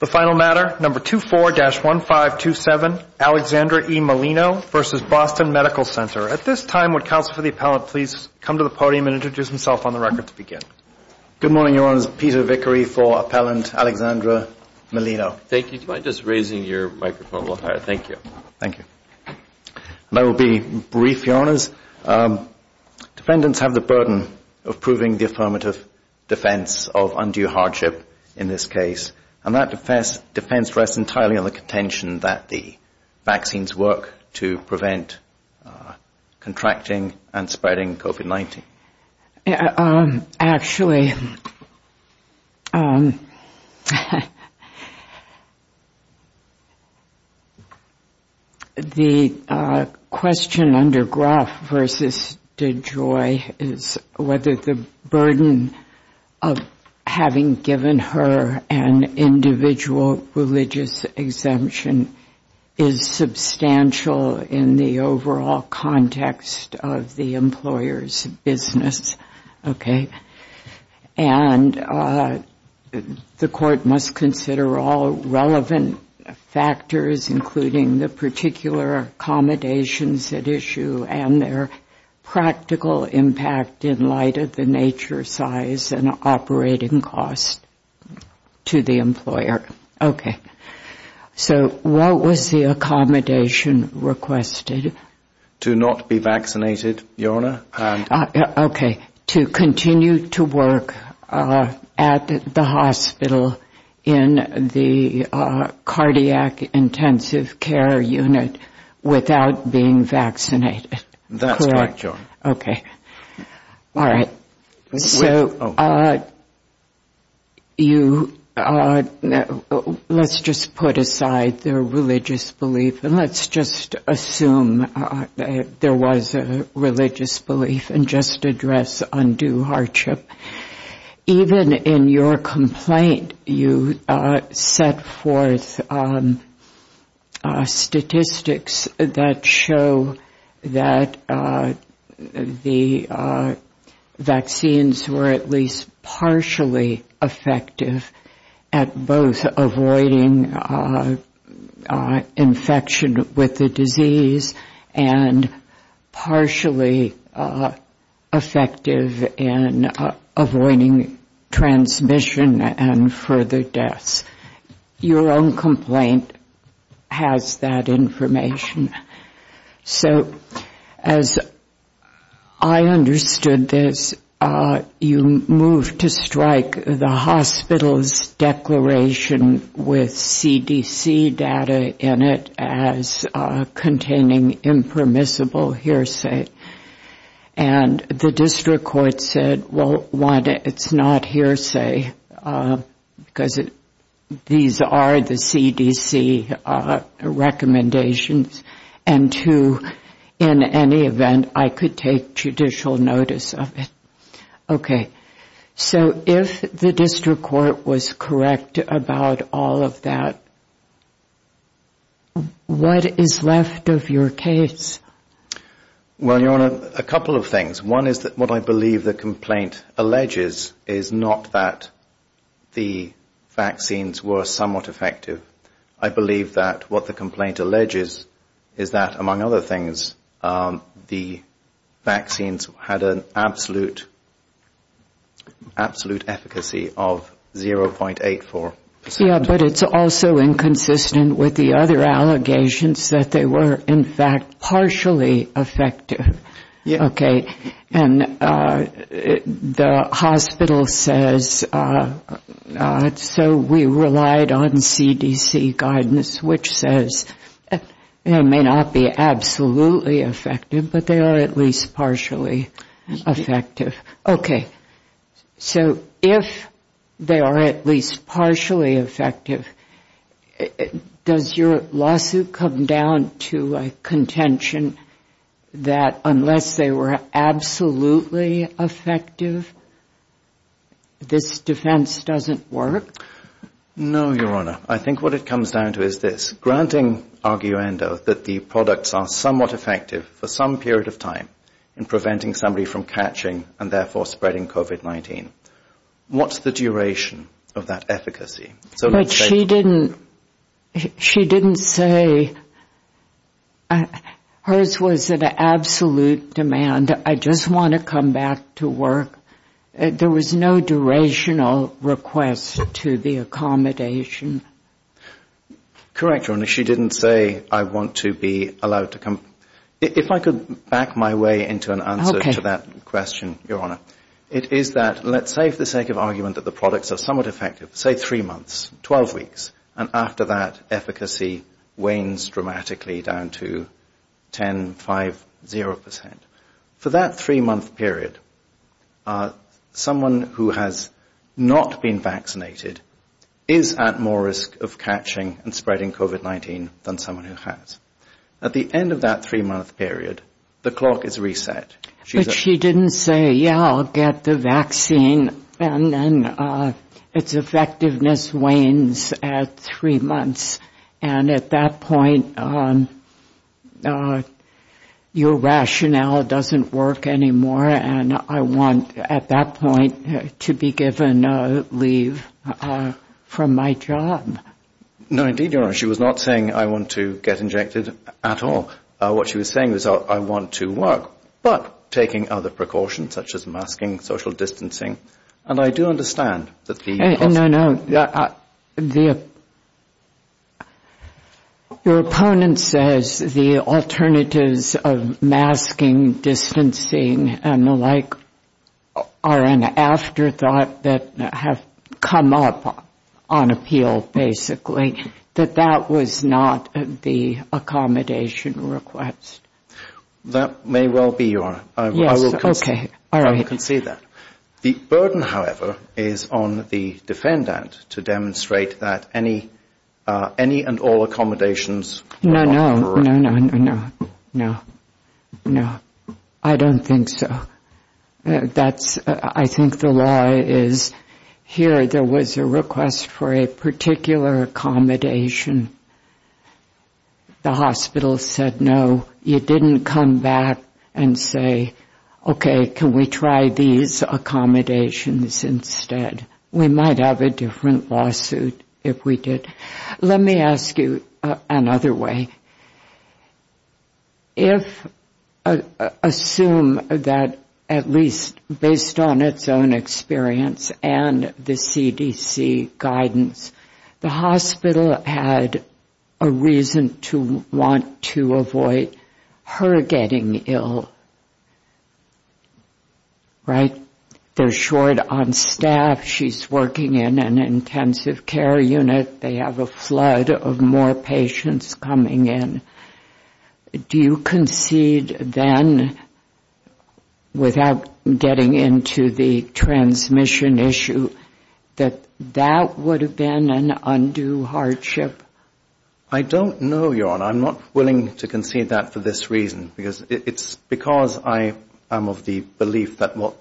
The final matter, No. 24-1527, Alexandra E. Molino v. Boston Medical Center. At this time, would Counsel for the Appellant please come to the podium and introduce himself on the record to begin? Good morning, Your Honors. Peter Vickery for Appellant Alexandra Molino. Thank you. Do you mind just raising your microphone a little higher? Thank you. Thank you. And I will be brief, Your Honors. Defendants have the burden of proving the affirmative defense of undue hardship in this case, and that defense rests entirely on the contention that the vaccines work to prevent contracting and spreading COVID-19. Actually, the question under Gruff v. DeJoy is whether the burden of having given her an individual religious exemption is substantial in the overall context of the employer's business. And the court must consider all relevant factors, including the particular accommodations at issue and their practical impact in light of the nature, size, and operating cost to the employer. Okay. So what was the accommodation requested? To not be vaccinated, Your Honor. Okay. To continue to work at the hospital in the cardiac intensive care unit without being vaccinated. That's right, Your Honor. Okay. All right. So you, let's just put aside the religious belief and let's just assume there was a religious belief and just address undue hardship. Even in your complaint, you set forth statistics that show that the vaccines were at least partially effective at both avoiding infection with the disease and partially effective in avoiding transmission and further deaths. Your own complaint has that information. So as I understood this, you moved to strike the hospital's declaration with CDC data in it as containing impermissible hearsay. And the district court said, well, one, it's not hearsay because these are the CDC recommendations. And two, in any event, I could take judicial notice of it. Okay. So if the district court was correct about all of that, what is left of your case? Well, Your Honor, a couple of things. One is that what I believe the complaint alleges is not that the vaccines were somewhat effective. I believe that what the complaint alleges is that, among other things, the vaccines had an absolute efficacy of 0.84 percent. Yeah, but it's also inconsistent with the other allegations that they were, in fact, partially effective. Okay. And the hospital says, so we relied on CDC guidance, which says it may not be absolutely effective, but they are at least partially effective. Okay. So if they are at least partially effective, does your lawsuit come down to a contention that unless they were absolutely effective, this defense doesn't work? No, Your Honor. I think what it comes down to is this, granting arguendo that the products are somewhat effective for some period of time in preventing somebody from catching and, therefore, spreading COVID-19. What's the duration of that efficacy? But she didn't say hers was an absolute demand. I just want to come back to work. There was no durational request to the accommodation. Correct, Your Honor. She didn't say, I want to be allowed to come. If I could back my way into an answer to that question, Your Honor. It is that, let's say for the sake of argument that the products are somewhat effective, say three months, 12 weeks, and after that, efficacy wanes dramatically down to 10, 5, 0 percent. For that three-month period, someone who has not been vaccinated is at more risk of catching and spreading COVID-19 than someone who has. At the end of that three-month period, the clock is reset. But she didn't say, yeah, I'll get the vaccine, and then its effectiveness wanes at three months. And at that point, your rationale doesn't work anymore, and I want at that point to be given leave from my job. No, indeed, Your Honor. She was not saying, I want to get injected at all. What she was saying was, I want to work, but taking other precautions such as masking, social distancing, and I do understand that the No, no, no. Your opponent says the alternatives of masking, distancing, and the like are an afterthought that have come up on appeal, basically, that that was not the accommodation request. That may well be, Your Honor. Yes, okay. All right. I can see that. The burden, however, is on the defendant to demonstrate that any and all accommodations are correct. No, no, no, no, no, no, no. I don't think so. I think the law is, here there was a request for a particular accommodation. The hospital said no. You didn't come back and say, okay, can we try these accommodations instead. We might have a different lawsuit if we did. Let me ask you another way. If, assume that at least based on its own experience and the CDC guidance, the hospital had a reason to want to avoid her getting ill, right? They're short on staff. She's working in an intensive care unit. They have a flood of more patients coming in. Do you concede then, without getting into the transmission issue, that that would have been an undue hardship? I don't know, Your Honor. I'm not willing to concede that for this reason. Because I am of the belief that what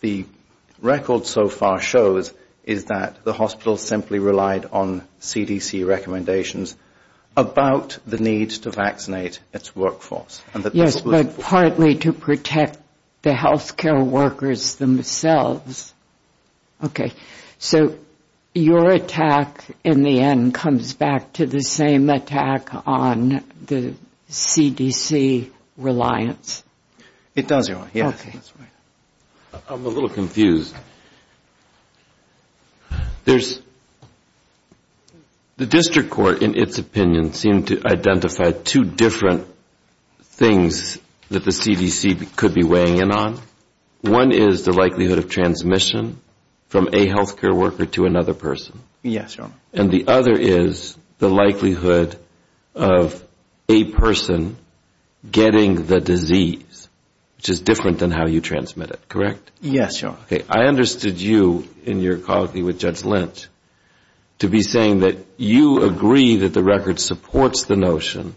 the record so far shows is that the hospital simply relied on CDC recommendations about the need to vaccinate its workforce. Yes, but partly to protect the health care workers themselves. Okay. So your attack in the end comes back to the same attack on the CDC reliance? It does, Your Honor, yes. I'm a little confused. The district court in its opinion seemed to identify two different things that the CDC could be weighing in on. One is the likelihood of transmission from a health care worker to another person. Yes, Your Honor. And the other is the likelihood of a person getting the disease, which is different than how you transmit it, correct? Yes, Your Honor. Okay. I understood you in your colloquy with Judge Lent to be saying that you agree that the record supports the notion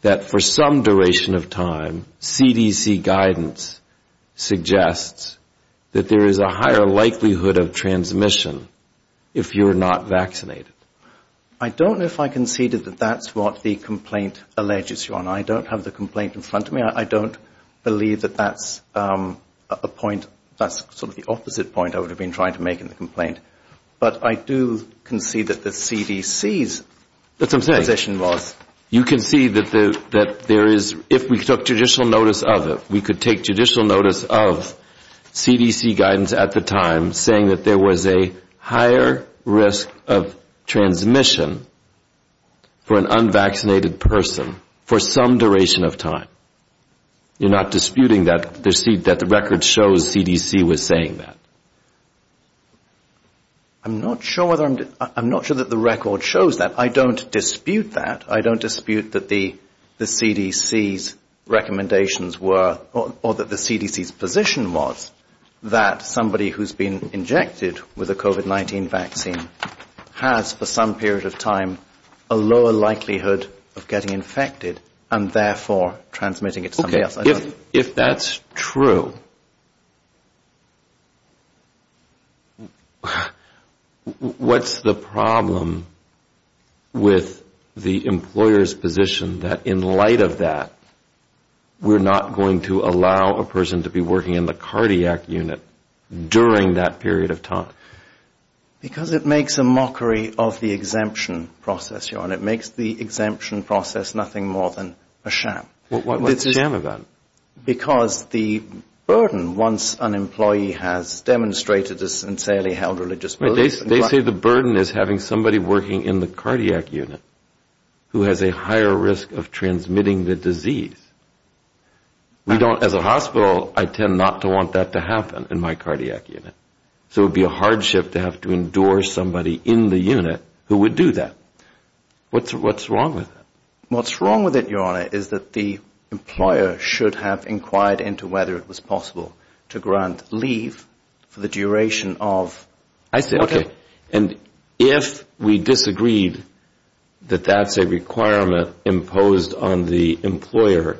that for some duration of time, CDC guidance suggests that there is a higher likelihood of transmission if you're not vaccinated. I don't know if I conceded that that's what the complaint alleges, Your Honor. I don't have the complaint in front of me. I don't believe that that's a point, that's sort of the opposite point I would have been trying to make in the complaint. But I do concede that the CDC's position was. You concede that there is, if we took judicial notice of it, we could take judicial notice of CDC guidance at the time, saying that there was a higher risk of transmission for an unvaccinated person for some duration of time. You're not disputing that the record shows CDC was saying that? I'm not sure that the record shows that. I don't dispute that. I don't dispute that the CDC's recommendations were or that the CDC's position was that somebody who's been injected with a COVID-19 vaccine has for some period of time a lower likelihood of getting infected and therefore transmitting it to somebody else. If that's true, what's the problem with the employer's position that in light of that, we're not going to allow a person to be working in the cardiac unit during that period of time? Because it makes a mockery of the exemption process, Your Honor. It makes the exemption process nothing more than a sham. What's a sham about it? Because the burden, once an employee has demonstrated a sincerely held religious belief. They say the burden is having somebody working in the cardiac unit who has a higher risk of transmitting the disease. As a hospital, I tend not to want that to happen in my cardiac unit. So it would be a hardship to have to endorse somebody in the unit who would do that. What's wrong with that? What's wrong with it, Your Honor, is that the employer should have inquired into whether it was possible to grant leave for the duration of... I see. Okay. And if we disagreed that that's a requirement imposed on the employer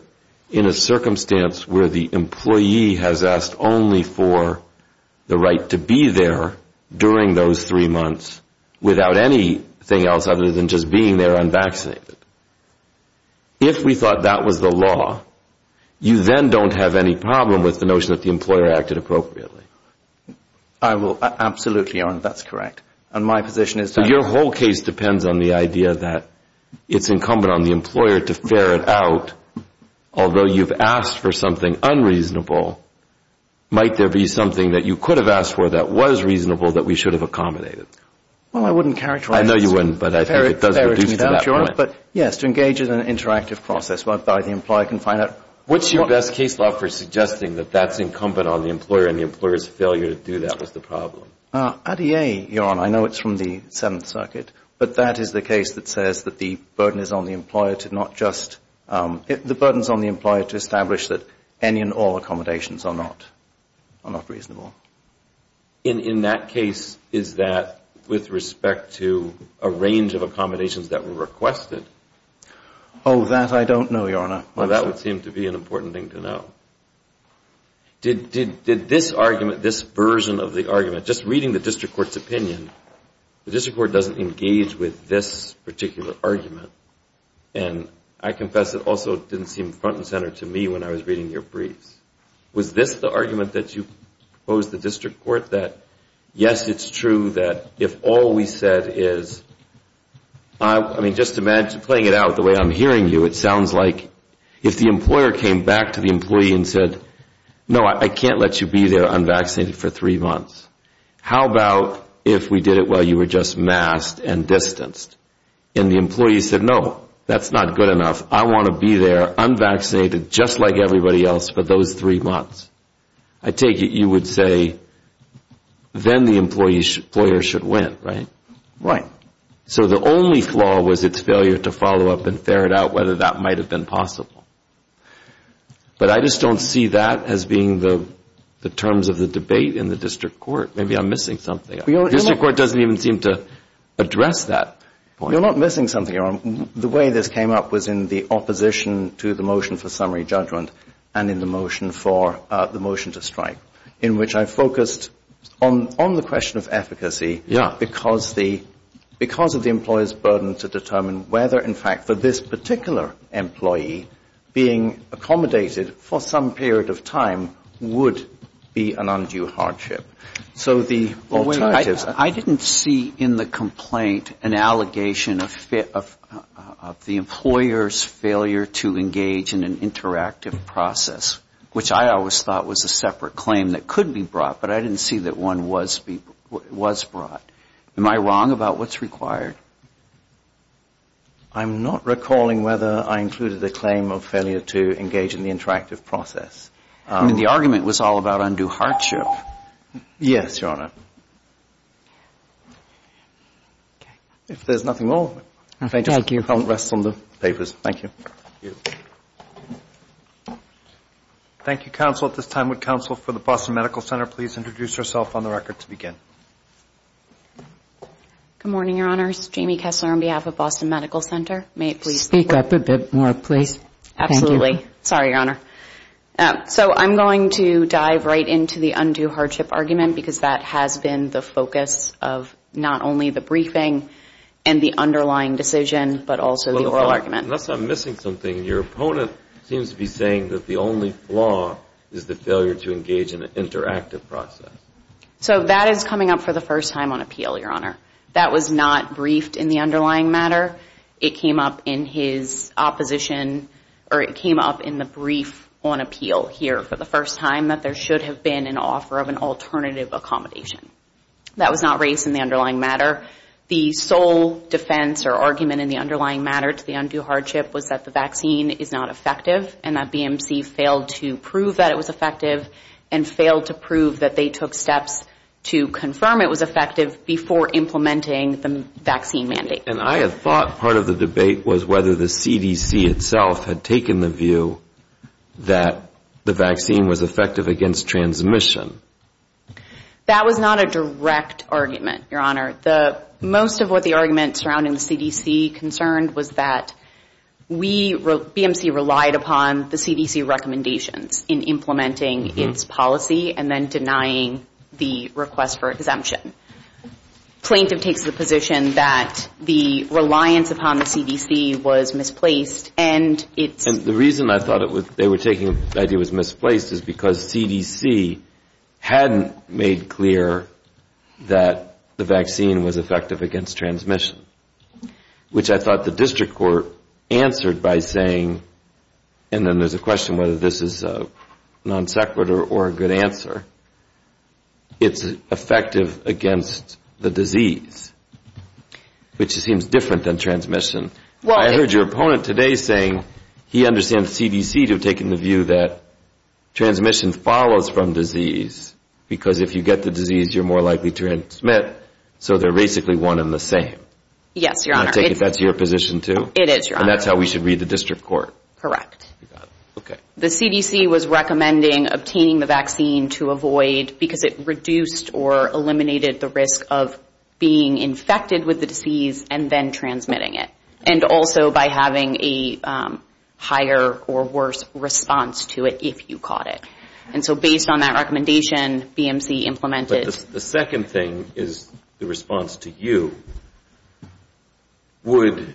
in a circumstance where the employee has asked only for the right to be there during those three months without anything else other than just being there unvaccinated, if we thought that was the law, you then don't have any problem with the notion that the employer acted appropriately. I will absolutely, Your Honor. That's correct. And my position is... So your whole case depends on the idea that it's incumbent on the employer to ferret out, although you've asked for something unreasonable, might there be something that you could have asked for that was reasonable that we should have accommodated? Well, I wouldn't characterize... I know you wouldn't, but I think it does reduce to that point. But, yes, to engage in an interactive process whereby the employer can find out... What's your best case law for suggesting that that's incumbent on the employer and the employer's failure to do that was the problem? ADA, Your Honor. I know it's from the Seventh Circuit. But that is the case that says that the burden is on the employer to not just... The burden is on the employer to establish that any and all accommodations are not reasonable. In that case, is that with respect to a range of accommodations that were requested? Oh, that I don't know, Your Honor. Well, that would seem to be an important thing to know. Did this argument, this version of the argument, just reading the district court's opinion, the district court doesn't engage with this particular argument. And I confess it also didn't seem front and center to me when I was reading your briefs. Was this the argument that you posed to the district court that, yes, it's true that if all we said is... I mean, just imagine playing it out the way I'm hearing you. It sounds like if the employer came back to the employee and said, no, I can't let you be there unvaccinated for three months. How about if we did it while you were just masked and distanced? And the employee said, no, that's not good enough. I want to be there unvaccinated just like everybody else for those three months. I take it you would say then the employer should win, right? Right. So the only flaw was its failure to follow up and ferret out whether that might have been possible. But I just don't see that as being the terms of the debate in the district court. Maybe I'm missing something. The district court doesn't even seem to address that point. You're not missing something. The way this came up was in the opposition to the motion for summary judgment and in the motion for the motion to strike in which I focused on the question of efficacy... Yeah. ...because of the employer's burden to determine whether, in fact, for this particular employee being accommodated for some period of time would be an undue hardship. So the alternatives... I didn't see in the complaint an allegation of the employer's failure to engage in an interactive process, which I always thought was a separate claim that could be brought, but I didn't see that one was brought. Am I wrong about what's required? I'm not recalling whether I included the claim of failure to engage in the interactive process. I mean, the argument was all about undue hardship. Yes, Your Honor. If there's nothing more... Thank you. ...I'll rest on the papers. Thank you. Thank you. Thank you, counsel. At this time, would counsel for the Boston Medical Center please introduce herself on the record to begin? Good morning, Your Honor. This is Jamie Kessler on behalf of Boston Medical Center. May it please... Speak up a bit more, please. Thank you. Sorry, Your Honor. So I'm going to dive right into the undue hardship argument because that has been the focus of not only the briefing and the underlying decision, but also the oral argument. Unless I'm missing something. Your opponent seems to be saying that the only flaw is the failure to engage in an interactive process. So that is coming up for the first time on appeal, Your Honor. That was not briefed in the underlying matter. It came up in his opposition or it came up in the brief on appeal here for the first time that there should have been an offer of an alternative accommodation. That was not raised in the underlying matter. The sole defense or argument in the underlying matter to the undue hardship was that the vaccine is not effective and that BMC failed to prove that it was effective and failed to prove that they took steps to confirm it was effective before implementing the vaccine mandate. And I had thought part of the debate was whether the CDC itself had taken the view that the vaccine was effective against transmission. That was not a direct argument, Your Honor. Most of what the argument surrounding the CDC concerned was that BMC relied upon the CDC recommendations in implementing its policy and then denying the request for exemption. Plaintiff takes the position that the reliance upon the CDC was misplaced. And the reason I thought they were taking the idea it was misplaced is because CDC hadn't made clear that the vaccine was effective against transmission, which I thought the district court answered by saying, and then there's a question whether this is a non sequitur or a good answer, it's effective against the disease, which seems different than transmission. I heard your opponent today saying he understands CDC to have taken the view that transmission follows from disease because if you get the disease, you're more likely to transmit. So they're basically one and the same. Yes, Your Honor. I take it that's your position too? It is, Your Honor. And that's how we should read the district court? Correct. Okay. The CDC was recommending obtaining the vaccine to avoid because it reduced or eliminated the risk of being infected with the disease and then transmitting it. And also by having a higher or worse response to it if you caught it. And so based on that recommendation, BMC implemented. The second thing is the response to you would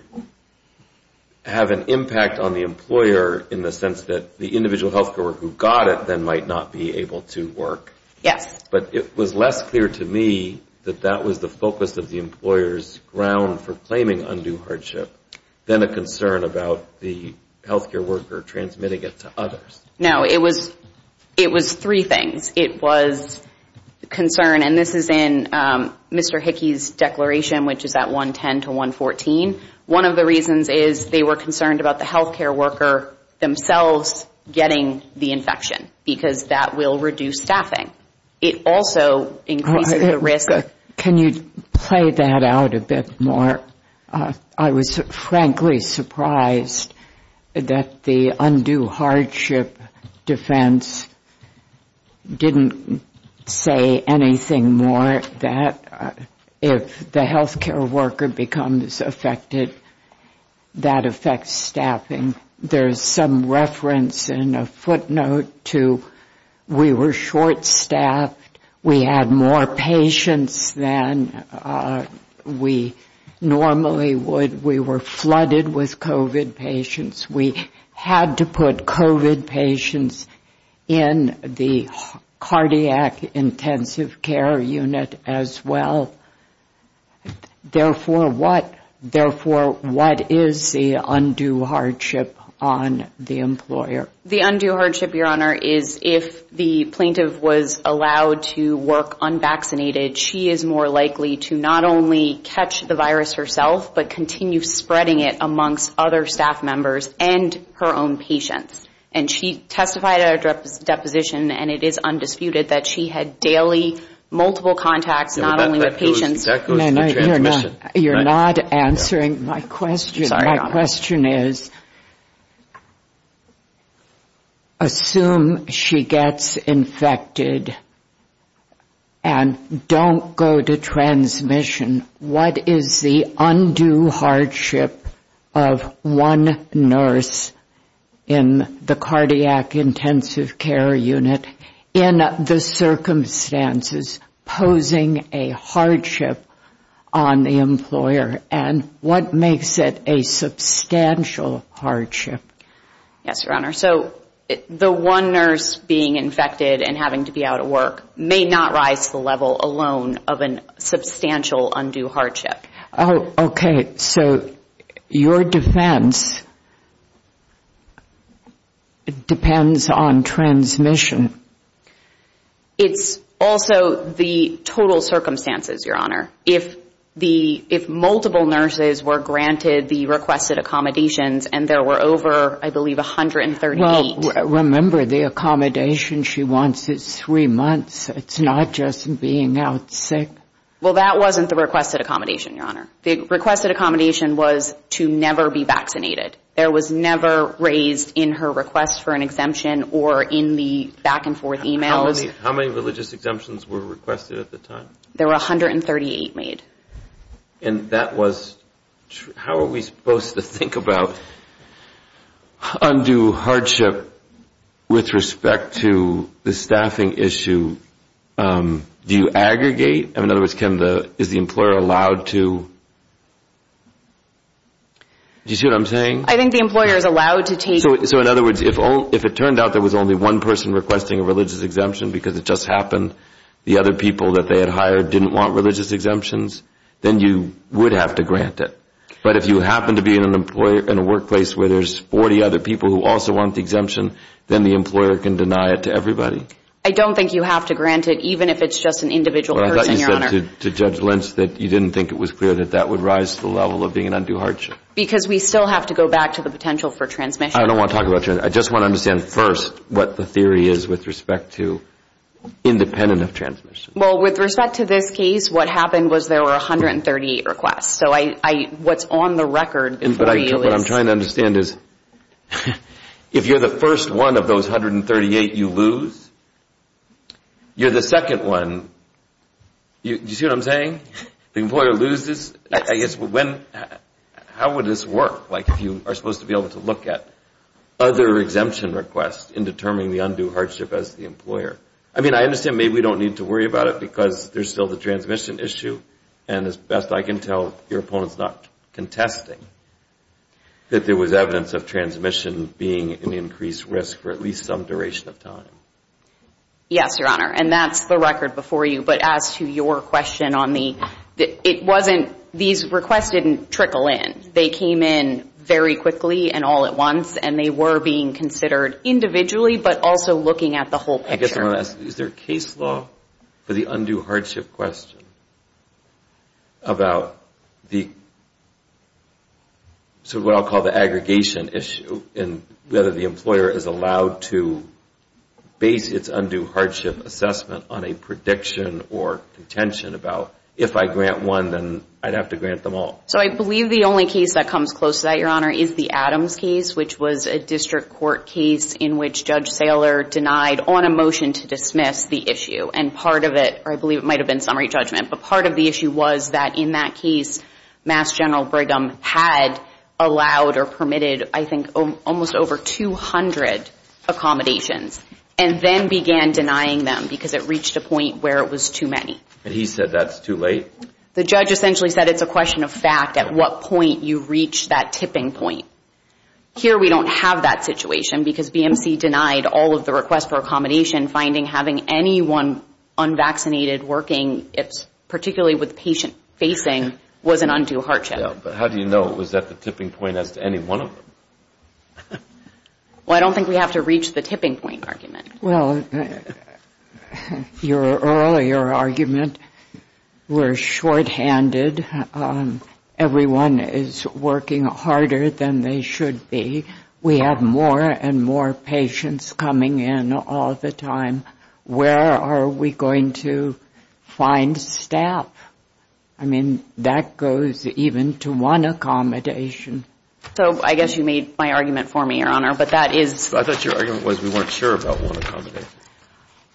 have an impact on the employer in the sense that the individual health care worker who got it then might not be able to work. Yes. But it was less clear to me that that was the focus of the employer's ground for claiming undue hardship than a concern about the health care worker transmitting it to others. No, it was three things. It was concern, and this is in Mr. Hickey's declaration, which is at 110 to 114. One of the reasons is they were concerned about the health care worker themselves getting the infection because that will reduce staffing. It also increases the risk. Can you play that out a bit more? I was frankly surprised that the undue hardship defense didn't say anything more that if the health care worker becomes affected, that affects staffing. There is some reference in a footnote to we were short-staffed. We had more patients than we normally would. We were flooded with COVID patients. We had to put COVID patients in the cardiac intensive care unit as well. Therefore, what is the undue hardship on the employer? The undue hardship, Your Honor, is if the plaintiff was allowed to work unvaccinated, she is more likely to not only catch the virus herself but continue spreading it amongst other staff members and her own patients. And she testified at our deposition, and it is undisputed, that she had daily multiple contacts, not only with patients. You're not answering my question. My question is, assume she gets infected and don't go to transmission, what is the undue hardship of one nurse in the cardiac intensive care unit in the circumstances posing a hardship on the employer? And what makes it a substantial hardship? Yes, Your Honor. So the one nurse being infected and having to be out of work may not rise to the level alone of a substantial undue hardship. Oh, okay. So your defense depends on transmission. It's also the total circumstances, Your Honor. If multiple nurses were granted the requested accommodations and there were over, I believe, 138. Well, remember, the accommodation she wants is three months. It's not just being out sick. Well, that wasn't the requested accommodation, Your Honor. The requested accommodation was to never be vaccinated. There was never raised in her request for an exemption or in the back-and-forth e-mails. How many religious exemptions were requested at the time? There were 138 made. And that was true. How are we supposed to think about undue hardship with respect to the staffing issue? Do you aggregate? In other words, is the employer allowed to? Do you see what I'm saying? I think the employer is allowed to take it. So, in other words, if it turned out there was only one person requesting a religious exemption because it just happened the other people that they had hired didn't want religious exemptions, then you would have to grant it. But if you happen to be in a workplace where there's 40 other people who also want the exemption, then the employer can deny it to everybody. I don't think you have to grant it, even if it's just an individual person, Your Honor. I thought you said to Judge Lynch that you didn't think it was clear that that would rise to the level of being an undue hardship. Because we still have to go back to the potential for transmission. I don't want to talk about transmission. I just want to understand first what the theory is with respect to independent of transmission. Well, with respect to this case, what happened was there were 138 requests. So what's on the record before you is... What I'm trying to understand is if you're the first one of those 138 you lose, you're the second one. Do you see what I'm saying? The employer loses. How would this work? Like if you are supposed to be able to look at other exemption requests in determining the undue hardship as the employer. I mean, I understand maybe we don't need to worry about it because there's still the transmission issue. And as best I can tell, your opponent's not contesting that there was evidence of transmission being an increased risk for at least some duration of time. Yes, Your Honor. And that's the record before you. But as to your question on the... It wasn't... These requests didn't trickle in. They came in very quickly and all at once. And they were being considered individually but also looking at the whole picture. I guess I'm going to ask, is there a case law for the undue hardship question about the sort of what I'll call the aggregation issue and whether the employer is allowed to base its undue hardship assessment on a prediction or contention about if I grant one, then I'd have to grant them all. So I believe the only case that comes close to that, Your Honor, is the Adams case, which was a district court case in which Judge Saylor denied on a motion to dismiss the issue. And part of it, or I believe it might have been summary judgment, but part of the issue was that in that case, Mass. General Brigham had allowed or permitted, I think, almost over 200 accommodations and then began denying them because it reached a point where it was too many. And he said that's too late? The judge essentially said it's a question of fact at what point you reach that tipping point. Here we don't have that situation because BMC denied all of the requests for accommodation, and finding having anyone unvaccinated working, particularly with patient facing, was an undue hardship. But how do you know it was at the tipping point as to any one of them? Well, I don't think we have to reach the tipping point argument. Well, your earlier argument were shorthanded. Everyone is working harder than they should be. We have more and more patients coming in all the time. Where are we going to find staff? I mean, that goes even to one accommodation. So I guess you made my argument for me, Your Honor, but that is ‑‑ I thought your argument was we weren't sure about one accommodation.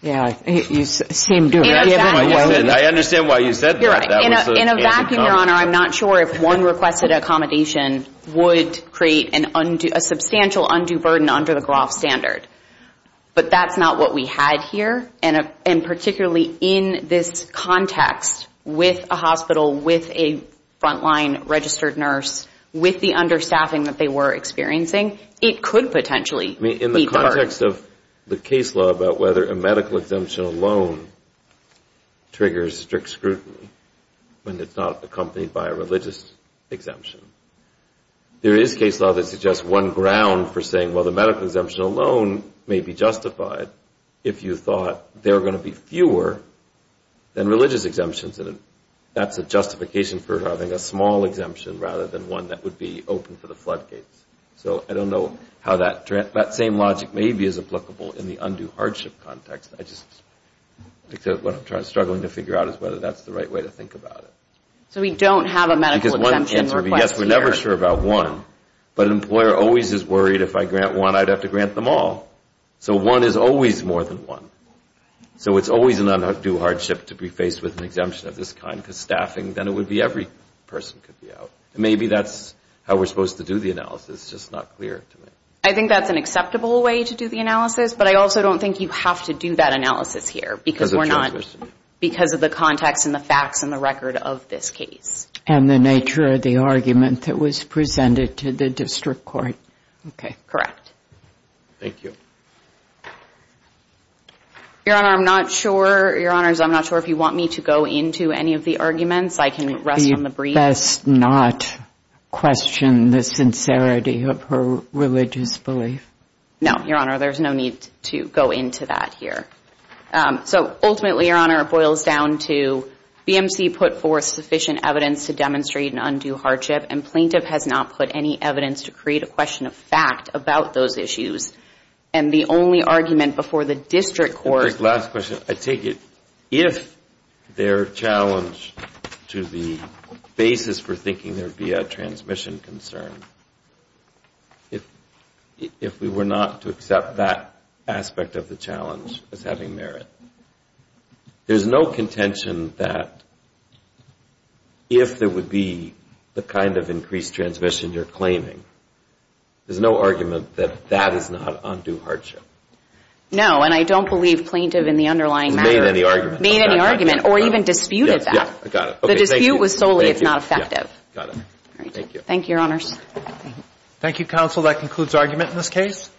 Yeah, you seem to have given it away. I understand why you said that. In a vacuum, Your Honor, I'm not sure if one requested accommodation would create a substantial undue burden under the Groff standard. But that's not what we had here. And particularly in this context with a hospital, with a frontline registered nurse, with the understaffing that they were experiencing, it could potentially be burdened. I mean, in the context of the case law about whether a medical exemption alone triggers strict scrutiny when it's not accompanied by a religious exemption, there is case law that suggests one ground for saying, well, the medical exemption alone may be justified if you thought there are going to be fewer than religious exemptions. And that's a justification for having a small exemption rather than one that would be open for the floodgates. So I don't know how that same logic maybe is applicable in the undue hardship context. I just think what I'm struggling to figure out is whether that's the right way to think about it. So we don't have a medical exemption request here. Yes, we're never sure about one. But an employer always is worried if I grant one, I'd have to grant them all. So one is always more than one. So it's always an undue hardship to be faced with an exemption of this kind, because staffing, then it would be every person could be out. Maybe that's how we're supposed to do the analysis. It's just not clear to me. I think that's an acceptable way to do the analysis, but I also don't think you have to do that analysis here because we're not going to. Because of the context and the facts and the record of this case. And the nature of the argument that was presented to the district court. Okay. Correct. Thank you. Your Honor, I'm not sure. Your Honors, I'm not sure if you want me to go into any of the arguments. I can rest on the brief. You best not question the sincerity of her religious belief. No, Your Honor. There's no need to go into that here. So ultimately, Your Honor, it boils down to BMC put forth sufficient evidence to demonstrate an undue hardship, and plaintiff has not put any evidence to create a question of fact about those issues. And the only argument before the district court. I take it if their challenge to the basis for thinking there would be a transmission concern, if we were not to accept that aspect of the challenge as having merit, there's no contention that if there would be the kind of increased transmission you're claiming, there's no argument that that is not undue hardship. No, and I don't believe plaintiff in the underlying matter made any argument or even disputed that. The dispute was solely it's not effective. Thank you. Thank you, Your Honors. Thank you, counsel. That concludes argument in this case.